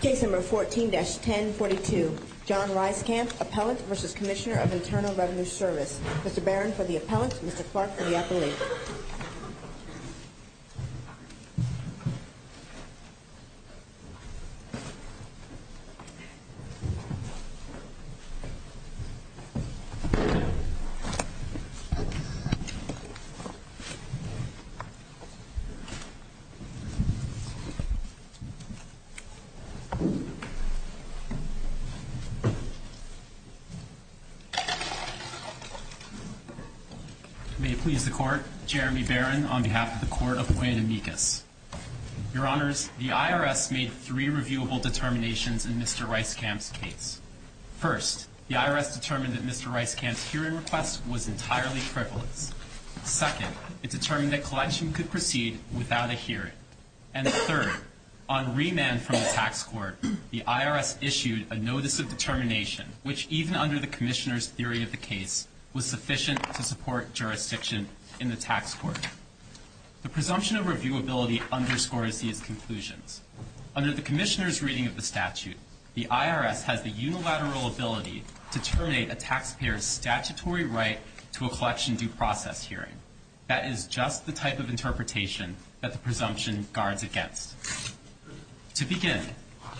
Case number 14-1042. John Ryskamp, Appellant v. Commissioner of Internal Revenue Service. Mr. Barron for the Appellant, Mr. Clark for the Appellant. May it please the Court, Jeremy Barron on behalf of the Court of Guantanamigas. Your Honors, the IRS made three reviewable determinations in Mr. Ryskamp's case. First, the IRS determined that Mr. Ryskamp's hearing request was entirely frivolous. Second, it determined that collection could proceed without a hearing. And third, on remand from the tax court, the IRS issued a notice of determination, which even under the Commissioner's theory of the case, was sufficient to support jurisdiction in the tax court. The presumption of reviewability underscores these conclusions. Under the Commissioner's reading of the statute, the IRS has the unilateral ability to terminate a taxpayer's statutory right to a collection due process hearing. That is just the type of interpretation that the presumption guards against. To begin,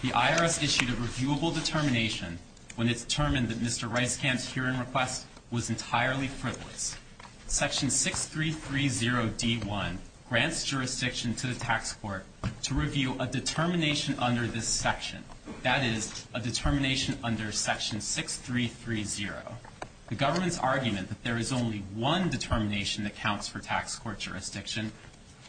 the IRS issued a reviewable determination when it determined that Mr. Ryskamp's hearing request was entirely frivolous. Section 6330D1 grants jurisdiction to the tax court to review a determination under this section. That is, a determination under Section 6330. The government's argument that there is only one determination that counts for tax court jurisdiction,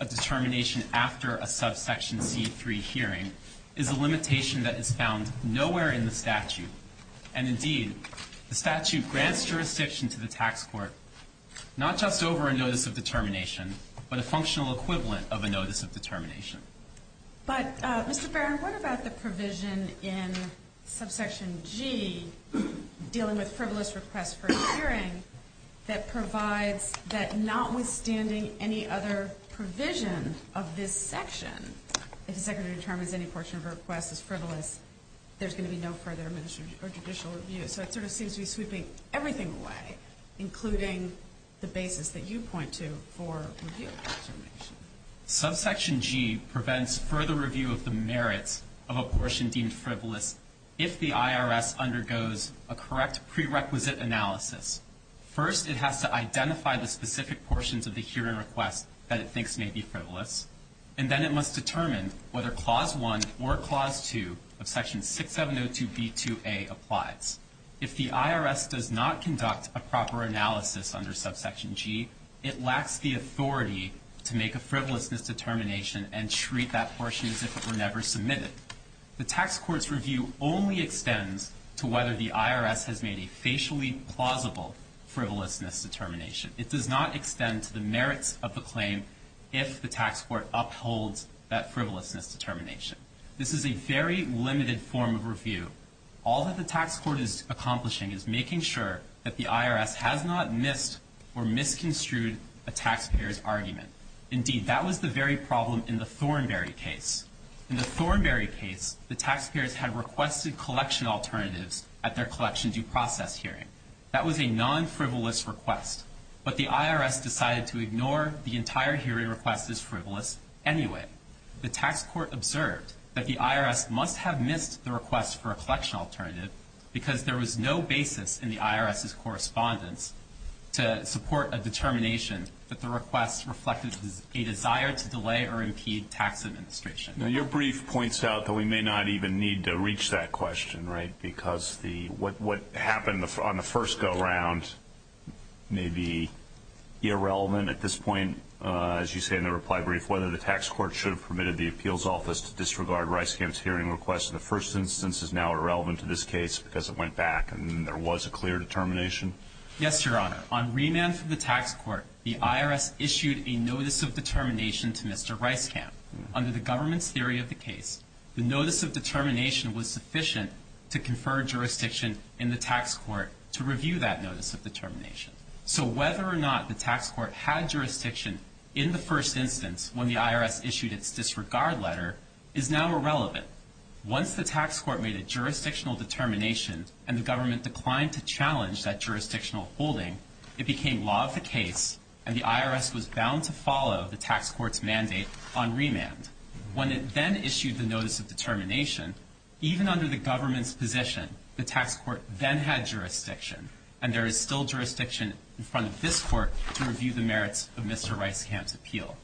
a determination after a subsection C3 hearing, is a limitation that is found nowhere in the statute. And indeed, the statute grants jurisdiction to the tax court not just over a notice of determination, but a functional equivalent of a notice of determination. But, Mr. Barron, what about the provision in subsection G, dealing with frivolous requests for a hearing, that provides that notwithstanding any other provision of this section, if the Secretary determines any portion of the request is frivolous, there's going to be no further judicial review. So it sort of seems to be sweeping everything away, including the basis that you point to for review. Subsection G prevents further review of the merits of a portion deemed frivolous if the IRS undergoes a correct prerequisite analysis. First, it has to identify the specific portions of the hearing request that it thinks may be frivolous, and then it must determine whether Clause 1 or Clause 2 of Section 6702B2A applies. If the IRS does not conduct a proper analysis under subsection G, it lacks the authority to make a frivolousness determination and treat that portion as if it were never submitted. The tax court's review only extends to whether the IRS has made a facially plausible frivolousness determination. It does not extend to the merits of the claim if the tax court upholds that frivolousness determination. This is a very limited form of review. All that the tax court is accomplishing is making sure that the IRS has not missed or misconstrued a taxpayer's argument. Indeed, that was the very problem in the Thornberry case. In the Thornberry case, the taxpayers had requested collection alternatives at their collection due process hearing. That was a non-frivolous request, but the IRS decided to ignore the entire hearing request as frivolous anyway. The tax court observed that the IRS must have missed the request for a collection alternative because there was no basis in the IRS's correspondence to support a determination that the request reflected a desire to delay or impede tax administration. Now, your brief points out that we may not even need to reach that question, right, because what happened on the first go-round may be irrelevant at this point, as you say in the reply brief, whether the tax court should have permitted the appeals office to disregard Reiskamp's hearing request in the first instance is now irrelevant to this case because it went back and there was a clear determination? Yes, Your Honor. On remand from the tax court, the IRS issued a notice of determination to Mr. Reiskamp. Under the government's theory of the case, the notice of determination was sufficient to confer jurisdiction in the tax court to review that notice of determination. So whether or not the tax court had jurisdiction in the first instance when the IRS issued its disregard letter is now irrelevant. Once the tax court made a jurisdictional determination and the government declined to challenge that jurisdictional holding, it became law of the case and the IRS was bound to follow the tax court's mandate on remand. When it then issued the notice of determination, even under the government's position, the tax court then had jurisdiction and there is still jurisdiction in front of this court to review the merits of Mr. Reiskamp's appeal.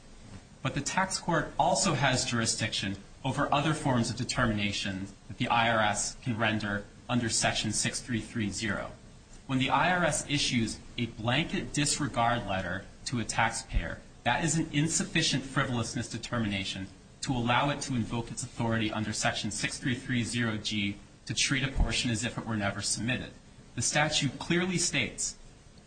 But the tax court also has jurisdiction over other forms of determination that the IRS can render under Section 6330. When the IRS issues a blanket disregard letter to a taxpayer, that is an insufficient frivolousness determination to allow it to invoke its authority under Section 6330G to treat a portion as if it were never submitted. The statute clearly states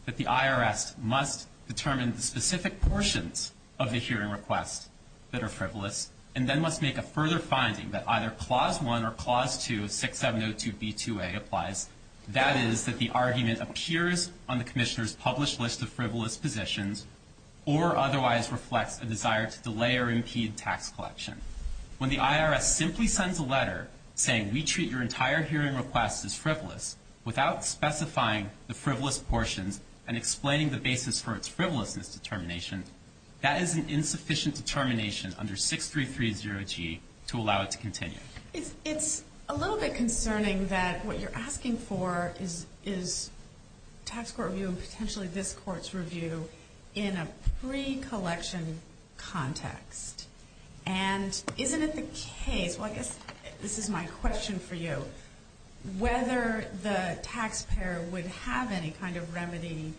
that the IRS must determine the specific portions of the hearing request that are frivolous and then must make a further finding that either Clause 1 or Clause 2 of 6702b2a applies. That is that the argument appears on the commissioner's published list of frivolous positions or otherwise reflects a desire to delay or impede tax collection. When the IRS simply sends a letter saying we treat your entire hearing request as frivolous without specifying the frivolous portions and explaining the basis for its frivolousness determination, that is an insufficient determination under 6330G to allow it to continue. It's a little bit concerning that what you're asking for is tax court review and potentially this court's review in a pre-collection context. And isn't it the case, well I guess this is my question for you, whether the taxpayer would have any kind of remedy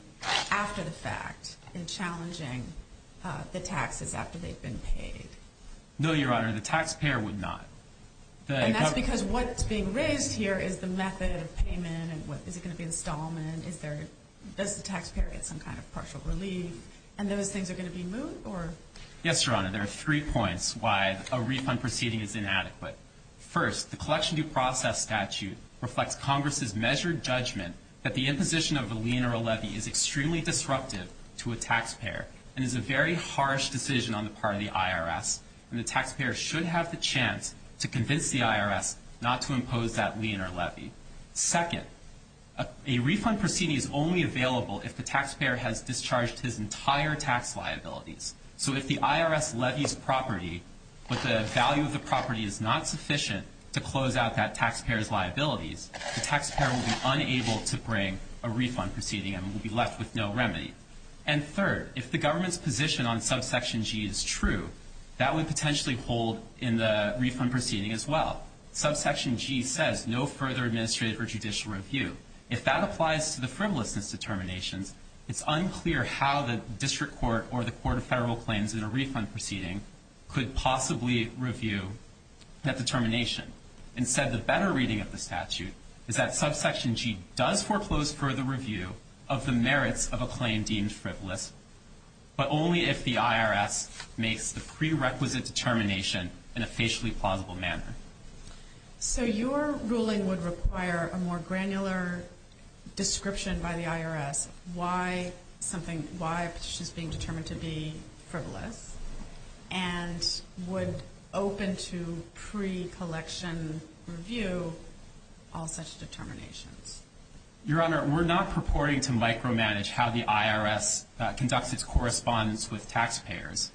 after the fact in challenging the taxes after they've been paid? No, Your Honor, the taxpayer would not. And that's because what's being raised here is the method of payment and is it going to be installment? Does the taxpayer get some kind of partial relief? And those things are going to be moved? Yes, Your Honor, there are three points why a refund proceeding is inadequate. First, the collection due process statute reflects Congress's measured judgment that the imposition of a lien or a levy is extremely disruptive to a taxpayer and is a very harsh decision on the part of the IRS. And the taxpayer should have the chance to convince the IRS not to impose that lien or levy. Second, a refund proceeding is only available if the taxpayer has discharged his entire tax liabilities. So if the IRS levies property but the value of the property is not sufficient to close out that taxpayer's liabilities, the taxpayer will be unable to bring a refund proceeding and will be left with no remedy. And third, if the government's position on subsection G is true, that would potentially hold in the refund proceeding as well. Subsection G says no further administrative or judicial review. If that applies to the frivolousness determinations, it's unclear how the district court or the court of federal claims in a refund proceeding could possibly review that determination. Instead, the better reading of the statute is that subsection G does foreclose further review of the merits of a claim deemed frivolous, but only if the IRS makes the prerequisite determination in a facially plausible manner. So your ruling would require a more granular description by the IRS why a petition is being determined to be frivolous and would open to pre-collection review all such determinations. Your Honor, we're not purporting to micromanage how the IRS conducts its correspondence with taxpayers,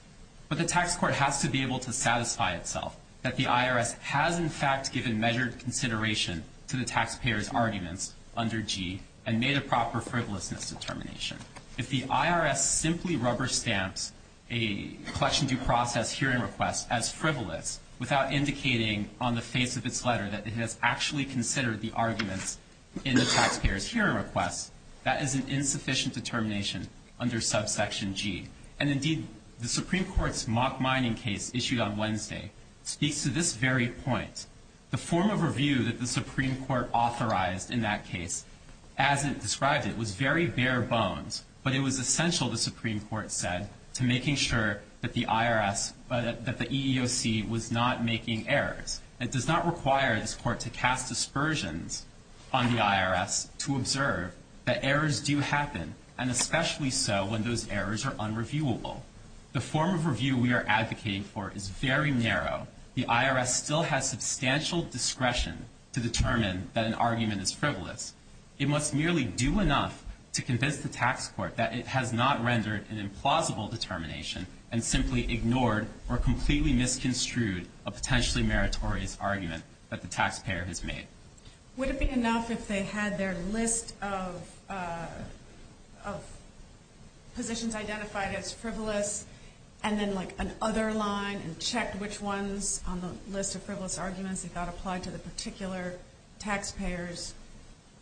but the tax court has to be able to satisfy itself that the IRS has, in fact, given measured consideration to the taxpayer's arguments under G and made a proper frivolousness determination. If the IRS simply rubber stamps a collection due process hearing request as frivolous without indicating on the face of its letter that it has actually considered the arguments in the taxpayer's hearing request, that is an insufficient determination under subsection G. And indeed, the Supreme Court's mock mining case issued on Wednesday speaks to this very point. The form of review that the Supreme Court authorized in that case, as it described it, was very bare bones, but it was essential, the Supreme Court said, to making sure that the EEOC was not making errors. It does not require this court to cast dispersions on the IRS to observe that errors do happen, and especially so when those errors are unreviewable. The form of review we are advocating for is very narrow. The IRS still has substantial discretion to determine that an argument is frivolous. It must merely do enough to convince the tax court that it has not rendered an implausible determination and simply ignored or completely misconstrued a potentially meritorious argument that the taxpayer has made. Would it be enough if they had their list of positions identified as frivolous and then, like, an other line and checked which ones on the list of frivolous arguments that got applied to the particular taxpayer's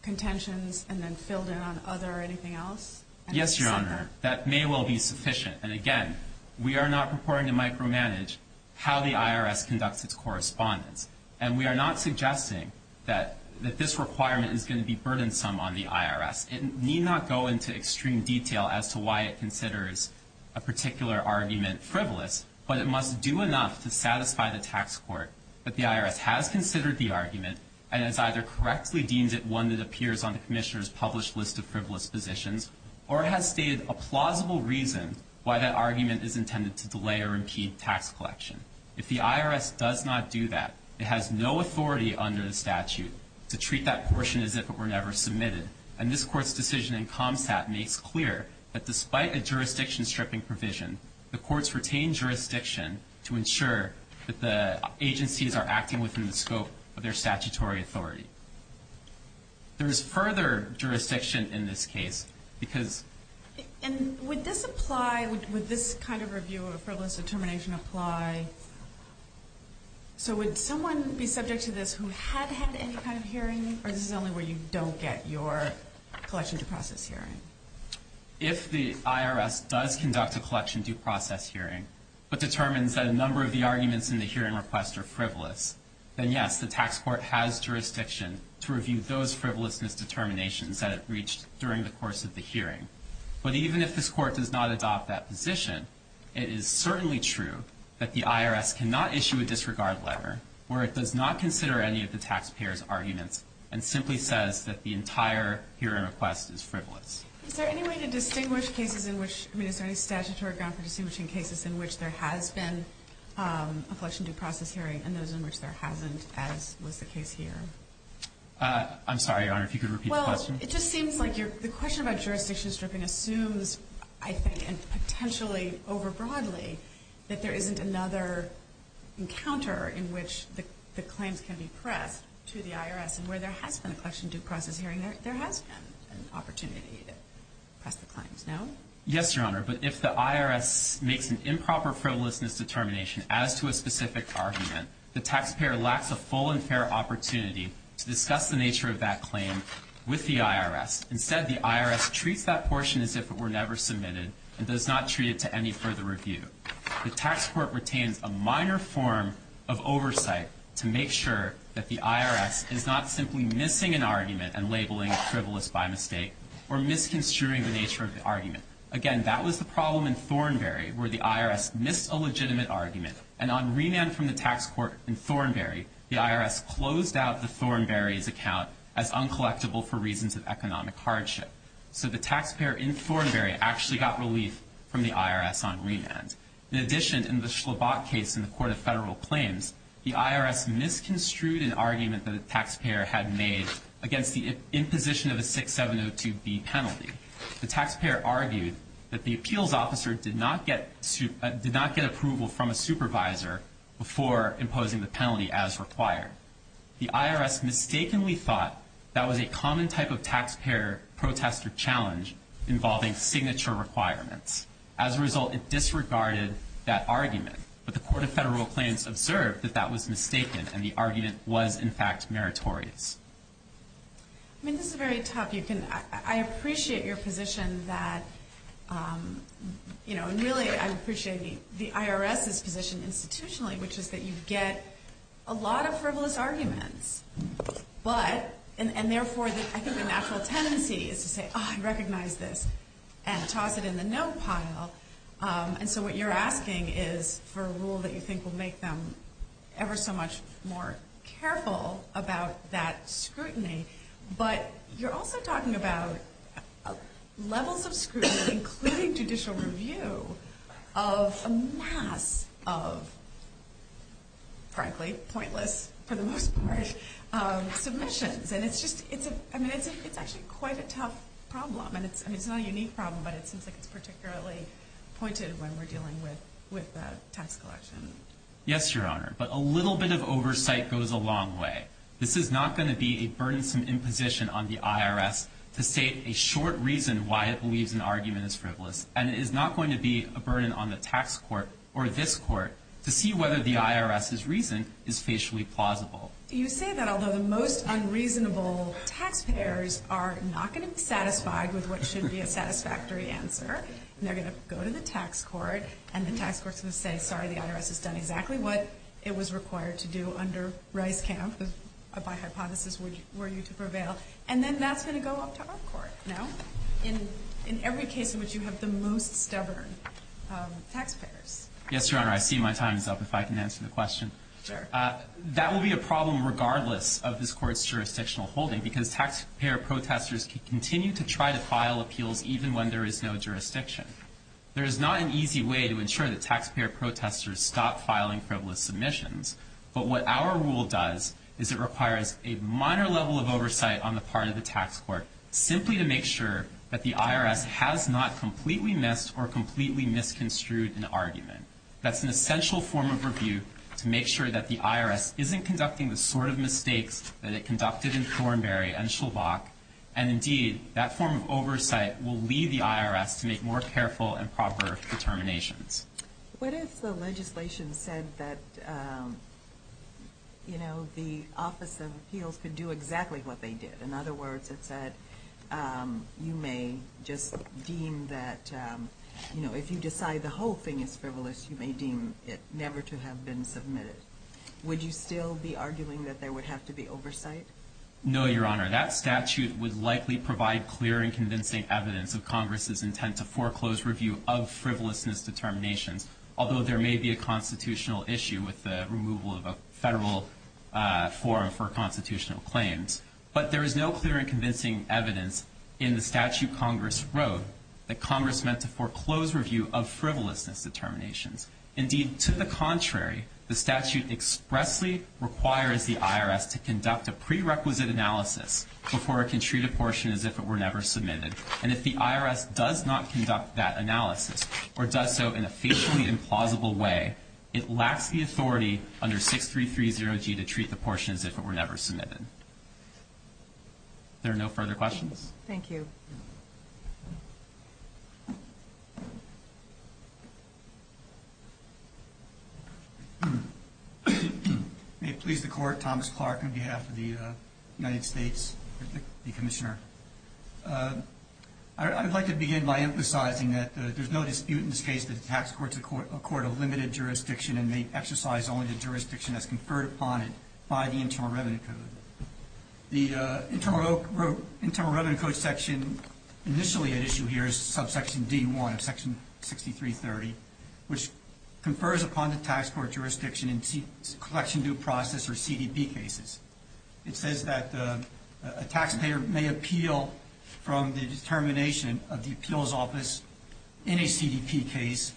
contentions and then filled in on other or anything else? Yes, Your Honor. That may well be sufficient. And again, we are not purporting to micromanage how the IRS conducts its correspondence, and we are not suggesting that this requirement is going to be burdensome on the IRS. It need not go into extreme detail as to why it considers a particular argument frivolous, but it must do enough to satisfy the tax court that the IRS has considered the argument and has either correctly deemed it one that appears on the Commissioner's published list of frivolous positions or has stated a plausible reason why that argument is intended to delay or impede tax collection. If the IRS does not do that, it has no authority under the statute to treat that portion as if it were never submitted. And this Court's decision in ComStat makes clear that despite a jurisdiction-stripping provision, the Courts retain jurisdiction to ensure that the agencies are acting within the scope of their statutory authority. There is further jurisdiction in this case because- And would this apply, would this kind of review of frivolous determination apply? So would someone be subject to this who had had any kind of hearing, or is this only where you don't get your collection to process hearing? If the IRS does conduct a collection due process hearing, but determines that a number of the arguments in the hearing request are frivolous, then yes, the tax court has jurisdiction to review those frivolousness determinations that it reached during the course of the hearing. But even if this Court does not adopt that position, it is certainly true that the IRS cannot issue a disregard letter where it does not consider any of the taxpayers' arguments and simply says that the entire hearing request is frivolous. Is there any way to distinguish cases in which- I mean, is there any statutory ground for distinguishing cases in which there has been a collection due process hearing and those in which there hasn't, as was the case here? I'm sorry, Your Honor, if you could repeat the question. Well, it just seems like the question about jurisdiction-stripping assumes, I think, and potentially over broadly, that there isn't another encounter in which the claims can be pressed to the IRS and where there has been a collection due process hearing, there has been an opportunity to press the claims. No? Yes, Your Honor, but if the IRS makes an improper frivolousness determination as to a specific argument, the taxpayer lacks a full and fair opportunity to discuss the nature of that claim with the IRS. Instead, the IRS treats that portion as if it were never submitted and does not treat it to any further review. The tax court retains a minor form of oversight to make sure that the IRS is not simply missing an argument and labeling frivolous by mistake or misconstruing the nature of the argument. Again, that was the problem in Thornberry, where the IRS missed a legitimate argument, and on remand from the tax court in Thornberry, the IRS closed out the Thornberry's account as uncollectible for reasons of economic hardship. So the taxpayer in Thornberry actually got relief from the IRS on remand. In addition, in the Schlabach case in the Court of Federal Claims, the IRS misconstrued an argument that a taxpayer had made against the imposition of a 6702B penalty. The taxpayer argued that the appeals officer did not get approval from a supervisor before imposing the penalty as required. The IRS mistakenly thought that was a common type of taxpayer protest or challenge involving signature requirements. As a result, it disregarded that argument, but the Court of Federal Claims observed that that was mistaken and the argument was, in fact, meritorious. I mean, this is very tough. I appreciate your position that, you know, and really I appreciate the IRS's position institutionally, which is that you get a lot of frivolous arguments. But, and therefore I think the natural tendency is to say, oh, I recognize this, and toss it in the no pile. And so what you're asking is for a rule that you think will make them ever so much more careful about that scrutiny. But you're also talking about levels of scrutiny, including judicial review, of a mass of frankly pointless, for the most part, submissions. And it's just, I mean, it's actually quite a tough problem. And it's not a unique problem, but it seems like it's particularly pointed when we're dealing with the tax collection. Yes, Your Honor. But a little bit of oversight goes a long way. This is not going to be a burdensome imposition on the IRS to state a short reason why it believes an argument is frivolous. And it is not going to be a burden on the tax court or this court to see whether the IRS's reason is facially plausible. You say that although the most unreasonable taxpayers are not going to be satisfied with what should be a satisfactory answer. They're going to go to the tax court, and the tax court's going to say, sorry, the IRS has done exactly what it was required to do under Rice Camp, if by hypothesis were you to prevail. And then that's going to go up to our court now, in every case in which you have the most stubborn taxpayers. Yes, Your Honor. I see my time is up, if I can answer the question. Sure. That will be a problem regardless of this court's jurisdictional holding, because taxpayer protesters can continue to try to file appeals even when there is no jurisdiction. There is not an easy way to ensure that taxpayer protesters stop filing frivolous submissions. But what our rule does is it requires a minor level of oversight on the part of the tax court, simply to make sure that the IRS has not completely missed or completely misconstrued an argument. That's an essential form of review to make sure that the IRS isn't conducting the sort of mistakes that it conducted in Thornberry and Shulbach. And indeed, that form of oversight will lead the IRS to make more careful and proper determinations. What if the legislation said that, you know, the Office of Appeals could do exactly what they did? In other words, it said you may just deem that, you know, if you decide the whole thing is frivolous, you may deem it never to have been submitted. Would you still be arguing that there would have to be oversight? No, Your Honor. That statute would likely provide clear and convincing evidence of Congress's intent to foreclose review of frivolousness determinations, although there may be a constitutional issue with the removal of a federal forum for constitutional claims. But there is no clear and convincing evidence in the statute Congress wrote that Congress meant to foreclose review of frivolousness determinations. Indeed, to the contrary, the statute expressly requires the IRS to conduct a prerequisite analysis before it can treat a portion as if it were never submitted. And if the IRS does not conduct that analysis or does so in a facially implausible way, it lacks the authority under 6330G to treat the portion as if it were never submitted. There are no further questions? Thank you. May it please the Court, Thomas Clark on behalf of the United States, the Commissioner. I would like to begin by emphasizing that there is no dispute in this case that the tax courts accord a limited jurisdiction and may exercise only the jurisdiction as conferred upon it by the Internal Revenue Code. The Internal Revenue Code section initially at issue here is subsection D1 of section 6330, which confers upon the tax court jurisdiction in collection due process or CDP cases. It says that a taxpayer may appeal from the determination of the appeals office in a CDP case,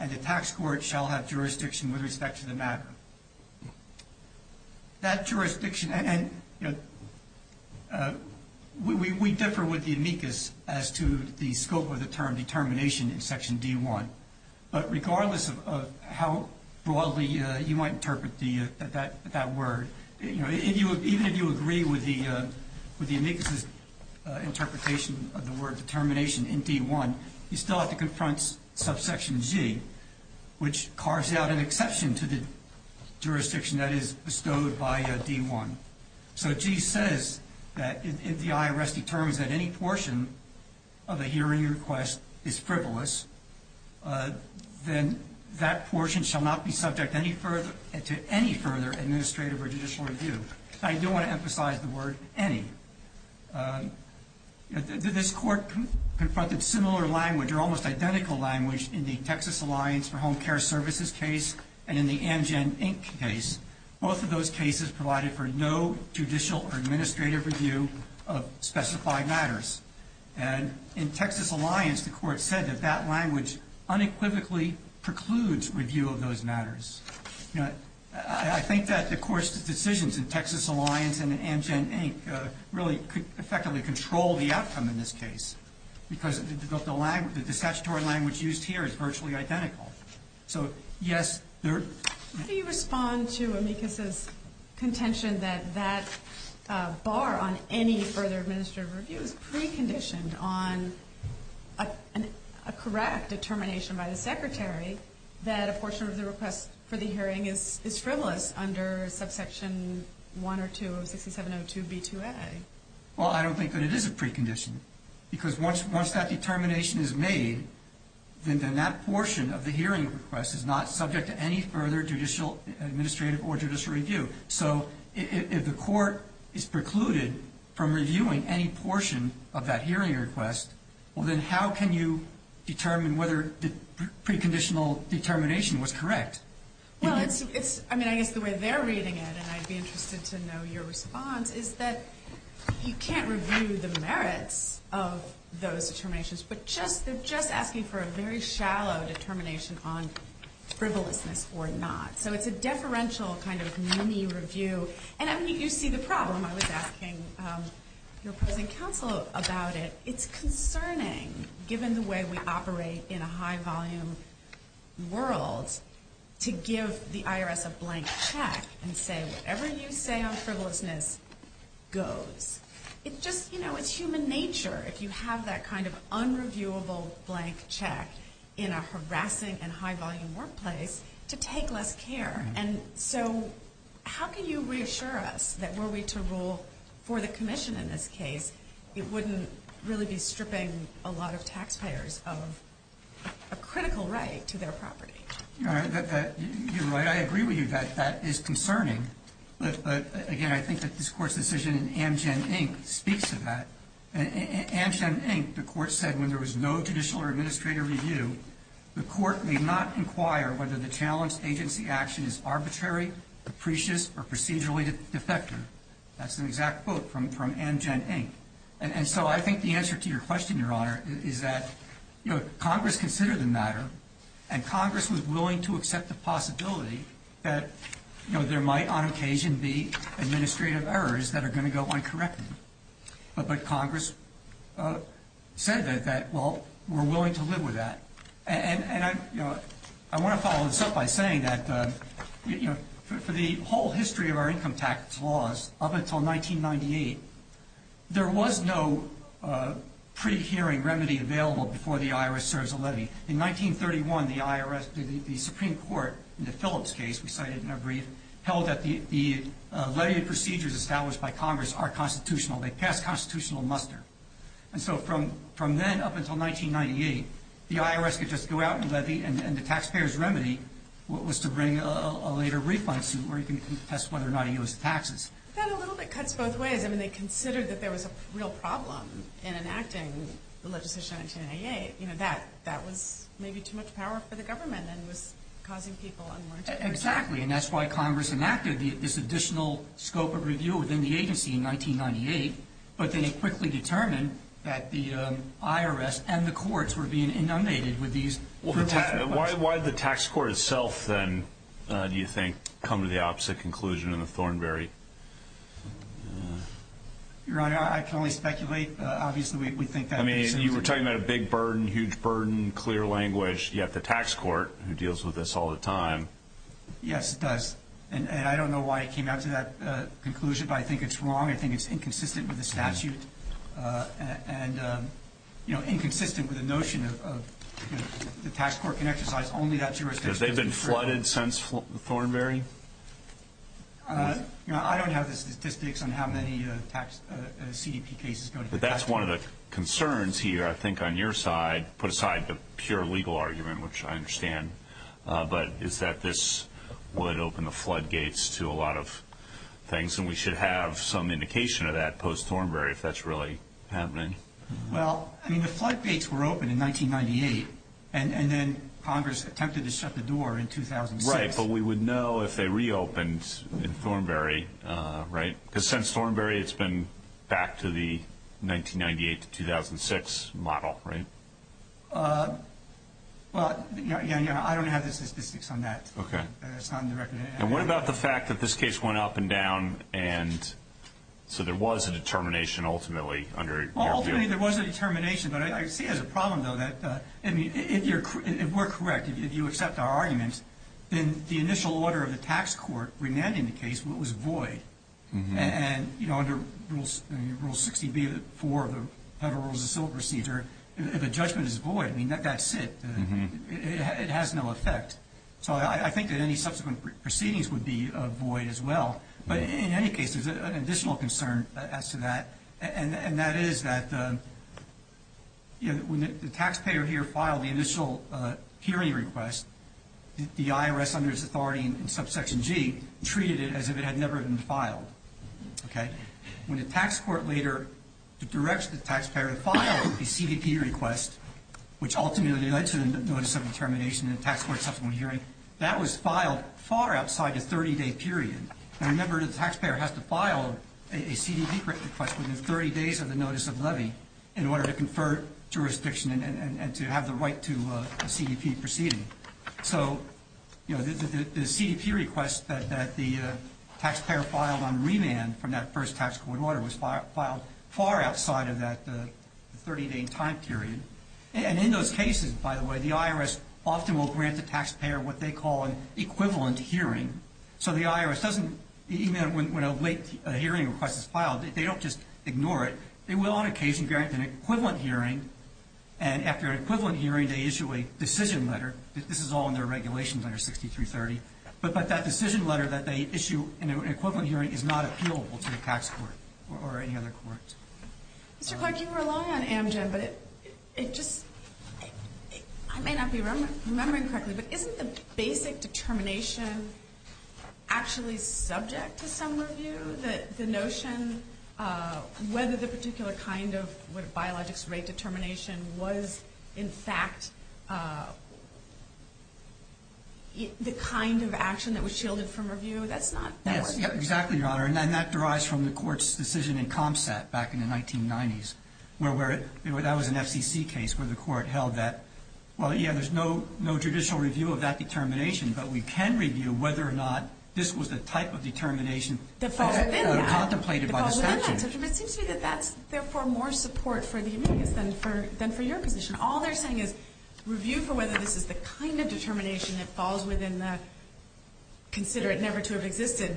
and the tax court shall have jurisdiction with respect to the matter. That jurisdiction, and we differ with the amicus as to the scope of the term determination in section D1, but regardless of how broadly you might interpret that word, even if you agree with the amicus's interpretation of the word determination in D1, you still have to confront subsection G, which carves out an exception to the jurisdiction that is bestowed by D1. So G says that if the IRS determines that any portion of a hearing request is frivolous, then that portion shall not be subject to any further administrative or judicial review. I do want to emphasize the word any. This court confronted similar language, or almost identical language, in the Texas Alliance for Home Care Services case and in the Amgen, Inc. case. Both of those cases provided for no judicial or administrative review of specified matters. And in Texas Alliance, the court said that that language unequivocally precludes review of those matters. I think that the court's decisions in Texas Alliance and in Amgen, Inc. really effectively control the outcome in this case, because the statutory language used here is virtually identical. So, yes, there... How do you respond to amicus's contention that that bar on any further administrative review is preconditioned on a correct determination by the secretary that a portion of the request for the hearing is frivolous under subsection 1 or 2 of 6702b2a? Well, I don't think that it is a precondition. Because once that determination is made, then that portion of the hearing request is not subject to any further judicial administrative or judicial review. So if the court is precluded from reviewing any portion of that hearing request, well, then how can you determine whether the preconditional determination was correct? Well, it's... I mean, I guess the way they're reading it, and I'd be interested to know your response, is that you can't review the merits of those determinations, but they're just asking for a very shallow determination on frivolousness or not. So it's a deferential kind of mini-review. And I mean, you see the problem. I was asking your opposing counsel about it. It's concerning, given the way we operate in a high-volume world, to give the IRS a blank check and say whatever you say on frivolousness goes. It just, you know, it's human nature, if you have that kind of unreviewable blank check in a harassing and high-volume workplace, to take less care. And so how can you reassure us that were we to rule for the commission in this case, it wouldn't really be stripping a lot of taxpayers of a critical right to their property? You're right. I agree with you that that is concerning. But, again, I think that this Court's decision in Amgen, Inc. speaks to that. In Amgen, Inc., the Court said when there was no judicial or administrative review, the Court may not inquire whether the challenged agency action is arbitrary, capricious, or procedurally defective. That's an exact quote from Amgen, Inc. And so I think the answer to your question, Your Honor, is that Congress considered the matter, and Congress was willing to accept the possibility that there might on occasion be administrative errors that are going to go uncorrected. But Congress said that, well, we're willing to live with that. And I want to follow this up by saying that for the whole history of our income tax laws up until 1998, there was no pre-hearing remedy available before the IRS serves a levy. In 1931, the Supreme Court, in the Phillips case we cited in our brief, held that the levy procedures established by Congress are constitutional. They pass constitutional muster. And so from then up until 1998, the IRS could just go out and levy, and the taxpayers' remedy was to bring a later refund suit where you can test whether or not he owes the taxes. That a little bit cuts both ways. I mean, they considered that there was a real problem in enacting the legislation in 1998. You know, that was maybe too much power for the government and was causing people unmerged. Exactly. And that's why Congress enacted this additional scope of review within the agency in 1998, but then it quickly determined that the IRS and the courts were being inundated with these. Why did the tax court itself then, do you think, come to the opposite conclusion in the Thornberry? Your Honor, I can only speculate. Obviously, we think that basically. I mean, you were talking about a big burden, huge burden, clear language. You have the tax court, who deals with this all the time. Yes, it does. And I don't know why it came out to that conclusion, but I think it's wrong. I think it's inconsistent with the statute and, you know, inconsistent with the notion of the tax court can exercise only that jurisdiction. Because they've been flooded since Thornberry? I don't have the statistics on how many tax CDP cases go to the tax court. That's one of the concerns here, I think, on your side, put aside the pure legal argument, which I understand, but is that this would open the floodgates to a lot of things, and we should have some indication of that post-Thornberry if that's really happening. Well, I mean, the floodgates were open in 1998, and then Congress attempted to shut the door in 2006. Right, but we would know if they reopened in Thornberry, right? Because since Thornberry, it's been back to the 1998 to 2006 model, right? Well, yeah, I don't have the statistics on that. Okay. It's not in the record. And what about the fact that this case went up and down, and so there was a determination ultimately under your view? Well, ultimately there was a determination, but I see it as a problem, though, that, I mean, if we're correct, if you accept our argument, then the initial order of the tax court remanding the case was void. And, you know, under Rule 60B of the Federal Rules of Civil Procedure, if a judgment is void, I mean, that's it. It has no effect. So I think that any subsequent proceedings would be void as well. But in any case, there's an additional concern as to that, and that is that when the taxpayer here filed the initial hearing request, the IRS under its authority in Subsection G treated it as if it had never been filed. Okay? When the tax court later directs the taxpayer to file a CDP request, which ultimately led to the notice of determination in a tax court subsequent hearing, that was filed far outside the 30-day period. And remember, the taxpayer has to file a CDP request within 30 days of the notice of levy in order to confer jurisdiction and to have the right to a CDP proceeding. So, you know, the CDP request that the taxpayer filed on remand from that first tax court order was filed far outside of that 30-day time period. And in those cases, by the way, the IRS often will grant the taxpayer what they call an equivalent hearing. So the IRS doesn't, even when a late hearing request is filed, they don't just ignore it. They will on occasion grant an equivalent hearing, and after an equivalent hearing, they issue a decision letter. This is all in their regulations under 6330. But that decision letter that they issue in an equivalent hearing is not appealable to the tax court or any other court. Mr. Clark, you rely on Amgen, but it just – I may not be remembering correctly, but isn't the basic determination actually subject to some review? The notion whether the particular kind of biologics rate determination was, in fact, the kind of action that was shielded from review? That's not – Yes, exactly, Your Honor. And that derives from the court's decision in CompSAT back in the 1990s, where that was an FCC case where the court held that, well, yeah, there's no judicial review of that determination, but we can review whether or not this was the type of determination contemplated by the statute. It seems to me that that's therefore more support for the amicus than for your position. All they're saying is review for whether this is the kind of determination that falls within that consider it never to have existed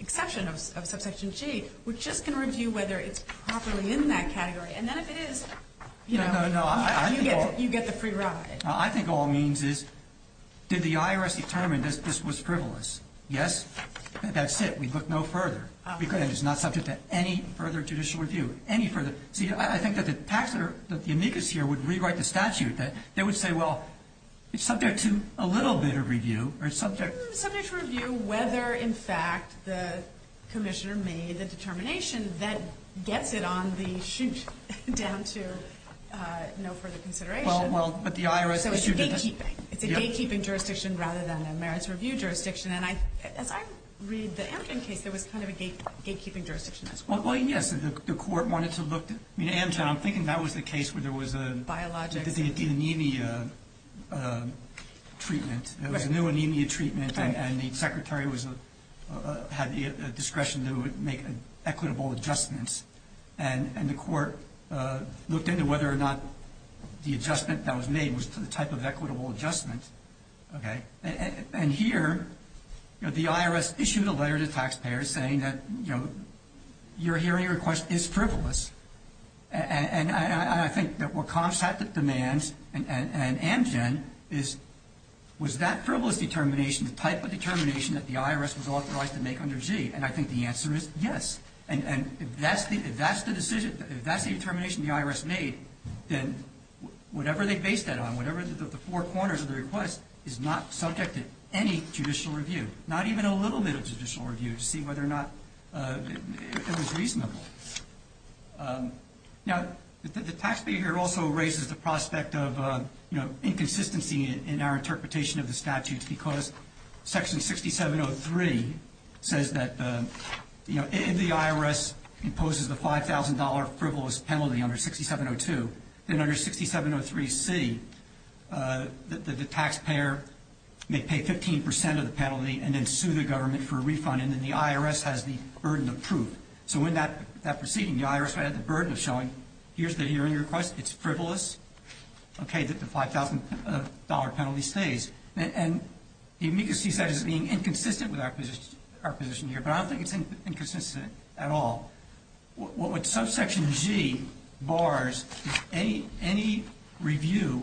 exception of subsection G. No, no, no. You get the free ride. I think all it means is did the IRS determine that this was frivolous? Yes? That's it. We look no further. It's not subject to any further judicial review, any further. See, I think that the amicus here would rewrite the statute. They would say, well, it's subject to a little bit of review or subject – Subject to review whether, in fact, the commissioner made the determination that gets it on the chute down to no further consideration. Well, but the IRS issued it as – So it's a gatekeeping. It's a gatekeeping jurisdiction rather than a merits review jurisdiction. And as I read the Amgen case, there was kind of a gatekeeping jurisdiction as well. Well, yes, the court wanted to look – I mean, Amgen, I'm thinking that was the case where there was a – Biologics. The anemia treatment. Right. There was a new anemia treatment, and the secretary had the discretion to make equitable adjustments. And the court looked into whether or not the adjustment that was made was the type of equitable adjustment. Okay? And here, the IRS issued a letter to taxpayers saying that, you know, your hearing request is frivolous. And I think that what COPS had to demand, and Amgen, was that frivolous determination the type of determination that the IRS was authorized to make under G? And I think the answer is yes. And if that's the determination the IRS made, then whatever they based that on, whatever the four corners of the request, is not subject to any judicial review, not even a little bit of judicial review to see whether or not it was reasonable. Now, the taxpayer here also raises the prospect of, you know, inconsistency in our interpretation of the statute because Section 6703 says that, you know, if the IRS imposes the $5,000 frivolous penalty under 6702, then under 6703C, the taxpayer may pay 15% of the penalty and then sue the government for a refund, and then the IRS has the burden of proof. So in that proceeding, the IRS had the burden of showing, here's the hearing request, it's frivolous, okay, that the $5,000 penalty stays. And the amicus he said is being inconsistent with our position here, but I don't think it's inconsistent at all. What Subsection G bars is any review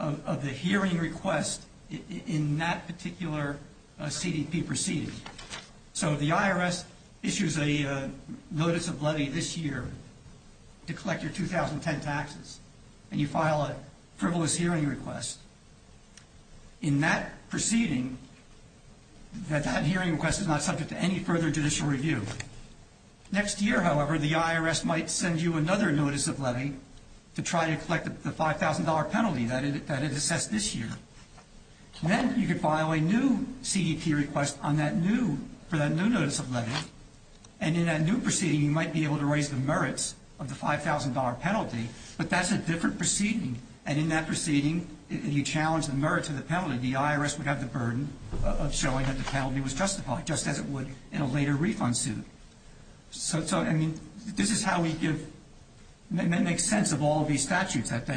of the hearing request in that particular CDP proceeding. So the IRS issues a notice of levy this year to collect your 2010 taxes, and you file a frivolous hearing request. In that proceeding, that hearing request is not subject to any further judicial review. Next year, however, the IRS might send you another notice of levy to try to collect the $5,000 penalty that it assessed this year. Then you could file a new CDP request for that new notice of levy, and in that new proceeding, you might be able to raise the merits of the $5,000 penalty, but that's a different proceeding, and in that proceeding, you challenge the merits of the penalty. The IRS would have the burden of showing that the penalty was justified, just as it would in a later refund suit. So, I mean, this is how we make sense of all these statutes, that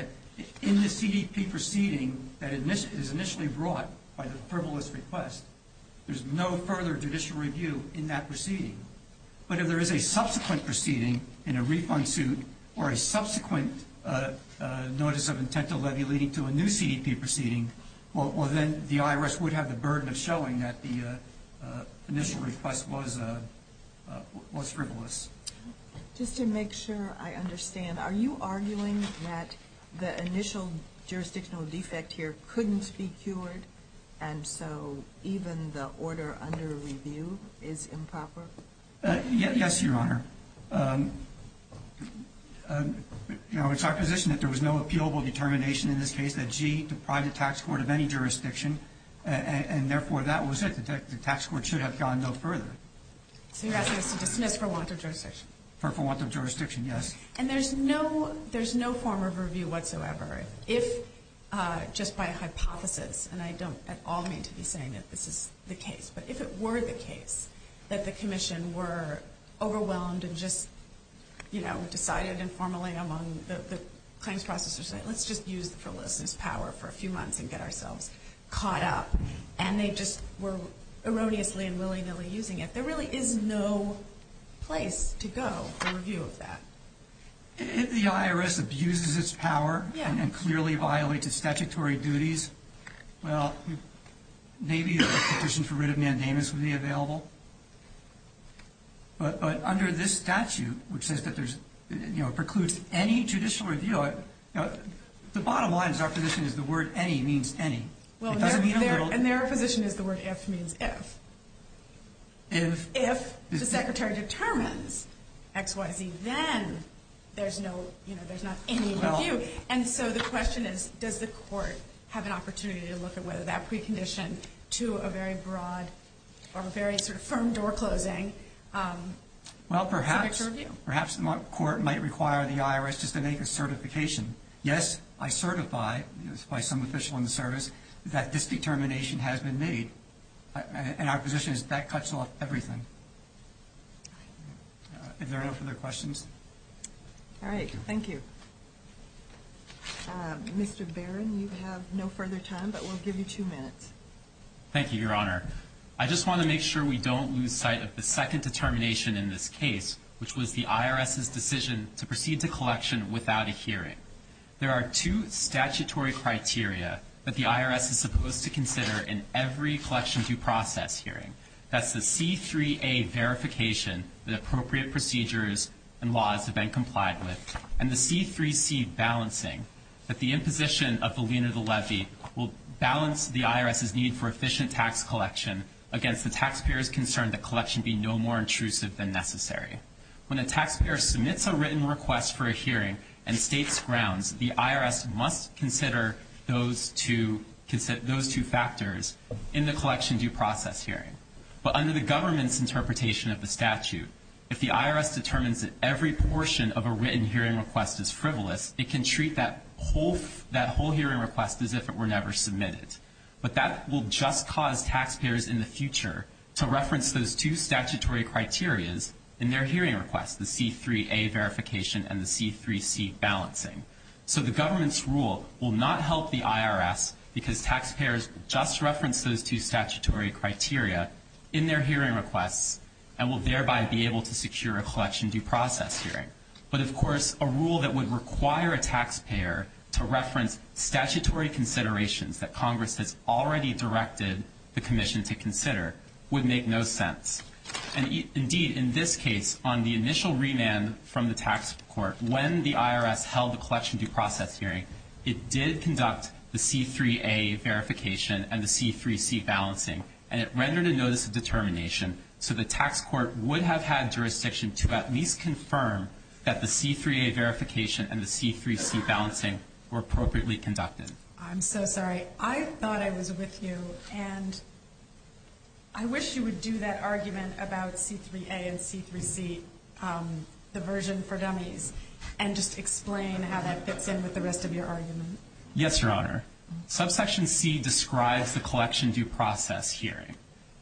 in the CDP proceeding that is initially brought by the frivolous request, there's no further judicial review in that proceeding. But if there is a subsequent proceeding in a refund suit or a subsequent notice of intent to levy leading to a new CDP proceeding, well, then the IRS would have the burden of showing that the initial request was frivolous. Just to make sure I understand, are you arguing that the initial jurisdictional defect here couldn't be cured, and so even the order under review is improper? Yes, Your Honor. You know, it's our position that there was no appealable determination in this case that G deprived the tax court of any jurisdiction, and therefore that was it. The tax court should have gone no further. So you're asking us to dismiss for want of jurisdiction? For want of jurisdiction, yes. And there's no form of review whatsoever if, just by hypothesis, and I don't at all mean to be saying that this is the case, but if it were the case that the Commission were overwhelmed and just decided informally among the claims processors, let's just use the frivolousness power for a few months and get ourselves caught up, and they just were erroneously and willy-nilly using it, there really is no place to go for review of that. If the IRS abuses its power and clearly violates its statutory duties, well, maybe a petition for writ of mandamus would be available. But under this statute, which says that there's, you know, precludes any judicial review, the bottom line is our position is the word any means any. And their position is the word if means if. If the Secretary determines X, Y, Z, then there's not any review. And so the question is, does the court have an opportunity to look at whether that precondition to a very broad or a very sort of firm door-closing subject to review? Well, perhaps the court might require the IRS just to make a certification. Yes, I certify by some official in the service that this determination has been made, and our position is that cuts off everything. Are there no further questions? All right. Thank you. Mr. Barron, you have no further time, but we'll give you two minutes. Thank you, Your Honor. I just want to make sure we don't lose sight of the second determination in this case, which was the IRS's decision to proceed to collection without a hearing. There are two statutory criteria that the IRS is supposed to consider in every collection due process hearing. That's the C3A verification that appropriate procedures and laws have been complied with, and the C3C balancing that the imposition of the lien or the levy will balance the IRS's need for efficient tax collection against the taxpayer's concern that collection be no more intrusive than necessary. When a taxpayer submits a written request for a hearing and states grounds, the IRS must consider those two factors in the collection due process hearing. But under the government's interpretation of the statute, if the IRS determines that every portion of a written hearing request is frivolous, it can treat that whole hearing request as if it were never submitted. But that will just cause taxpayers in the future to reference those two statutory criterias in their hearing requests, the C3A verification and the C3C balancing. So the government's rule will not help the IRS because taxpayers just reference those two statutory criteria in their hearing requests and will thereby be able to secure a collection due process hearing. But, of course, a rule that would require a taxpayer to reference statutory considerations that Congress has already directed the commission to consider would make no sense. Indeed, in this case, on the initial remand from the tax court, when the IRS held the collection due process hearing, it did conduct the C3A verification and the C3C balancing, and it rendered a notice of determination so the tax court would have had jurisdiction to at least confirm that the C3A verification and the C3C balancing were appropriately conducted. I'm so sorry. I thought I was with you, and I wish you would do that argument about C3A and C3C, the version for dummies, and just explain how that fits in with the rest of your argument. Yes, Your Honor. Subsection C describes the collection due process hearing,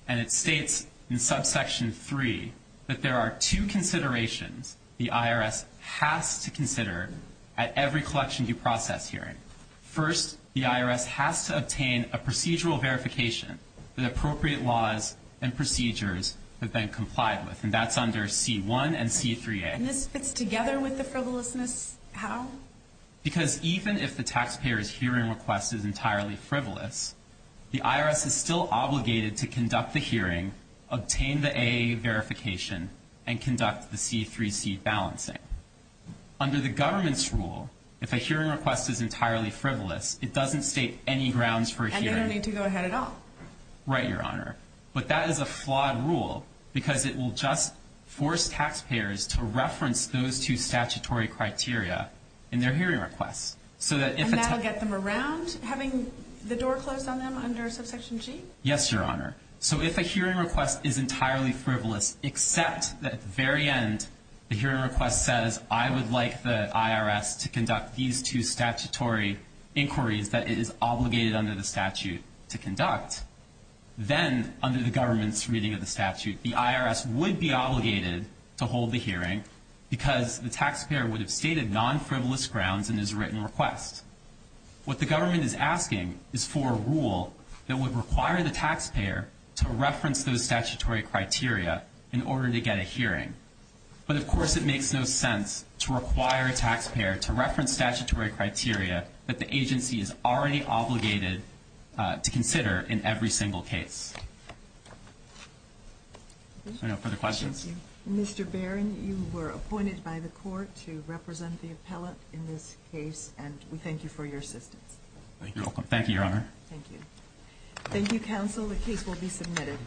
and it states in Subsection 3 that there are two considerations the IRS has to consider at every collection due process hearing. First, the IRS has to obtain a procedural verification that appropriate laws and procedures have been complied with, and that's under C1 and C3A. And this fits together with the frivolousness? How? Because even if the taxpayer's hearing request is entirely frivolous, the IRS is still obligated to conduct the hearing, obtain the AA verification, and conduct the C3C balancing. Under the government's rule, if a hearing request is entirely frivolous, it doesn't state any grounds for hearing. And they don't need to go ahead at all. Right, Your Honor. But that is a flawed rule because it will just force taxpayers to reference those two statutory criteria in their hearing requests. And that will get them around, having the door closed on them under Subsection G? Yes, Your Honor. So if a hearing request is entirely frivolous except that at the very end the hearing request says, I would like the IRS to conduct these two statutory inquiries that it is obligated under the statute to conduct, then under the government's reading of the statute the IRS would be obligated to hold the hearing because the taxpayer would have stated non-frivolous grounds in his written request. What the government is asking is for a rule that would require the taxpayer to reference those statutory criteria in order to get a hearing. But, of course, it makes no sense to require a taxpayer to reference statutory criteria that the agency is already obligated to consider in every single case. Are there no further questions? Thank you. Mr. Barron, you were appointed by the court to represent the appellant in this case, and we thank you for your assistance. Thank you. You're welcome. Thank you, Your Honor. Thank you. Thank you, counsel. The case will be submitted.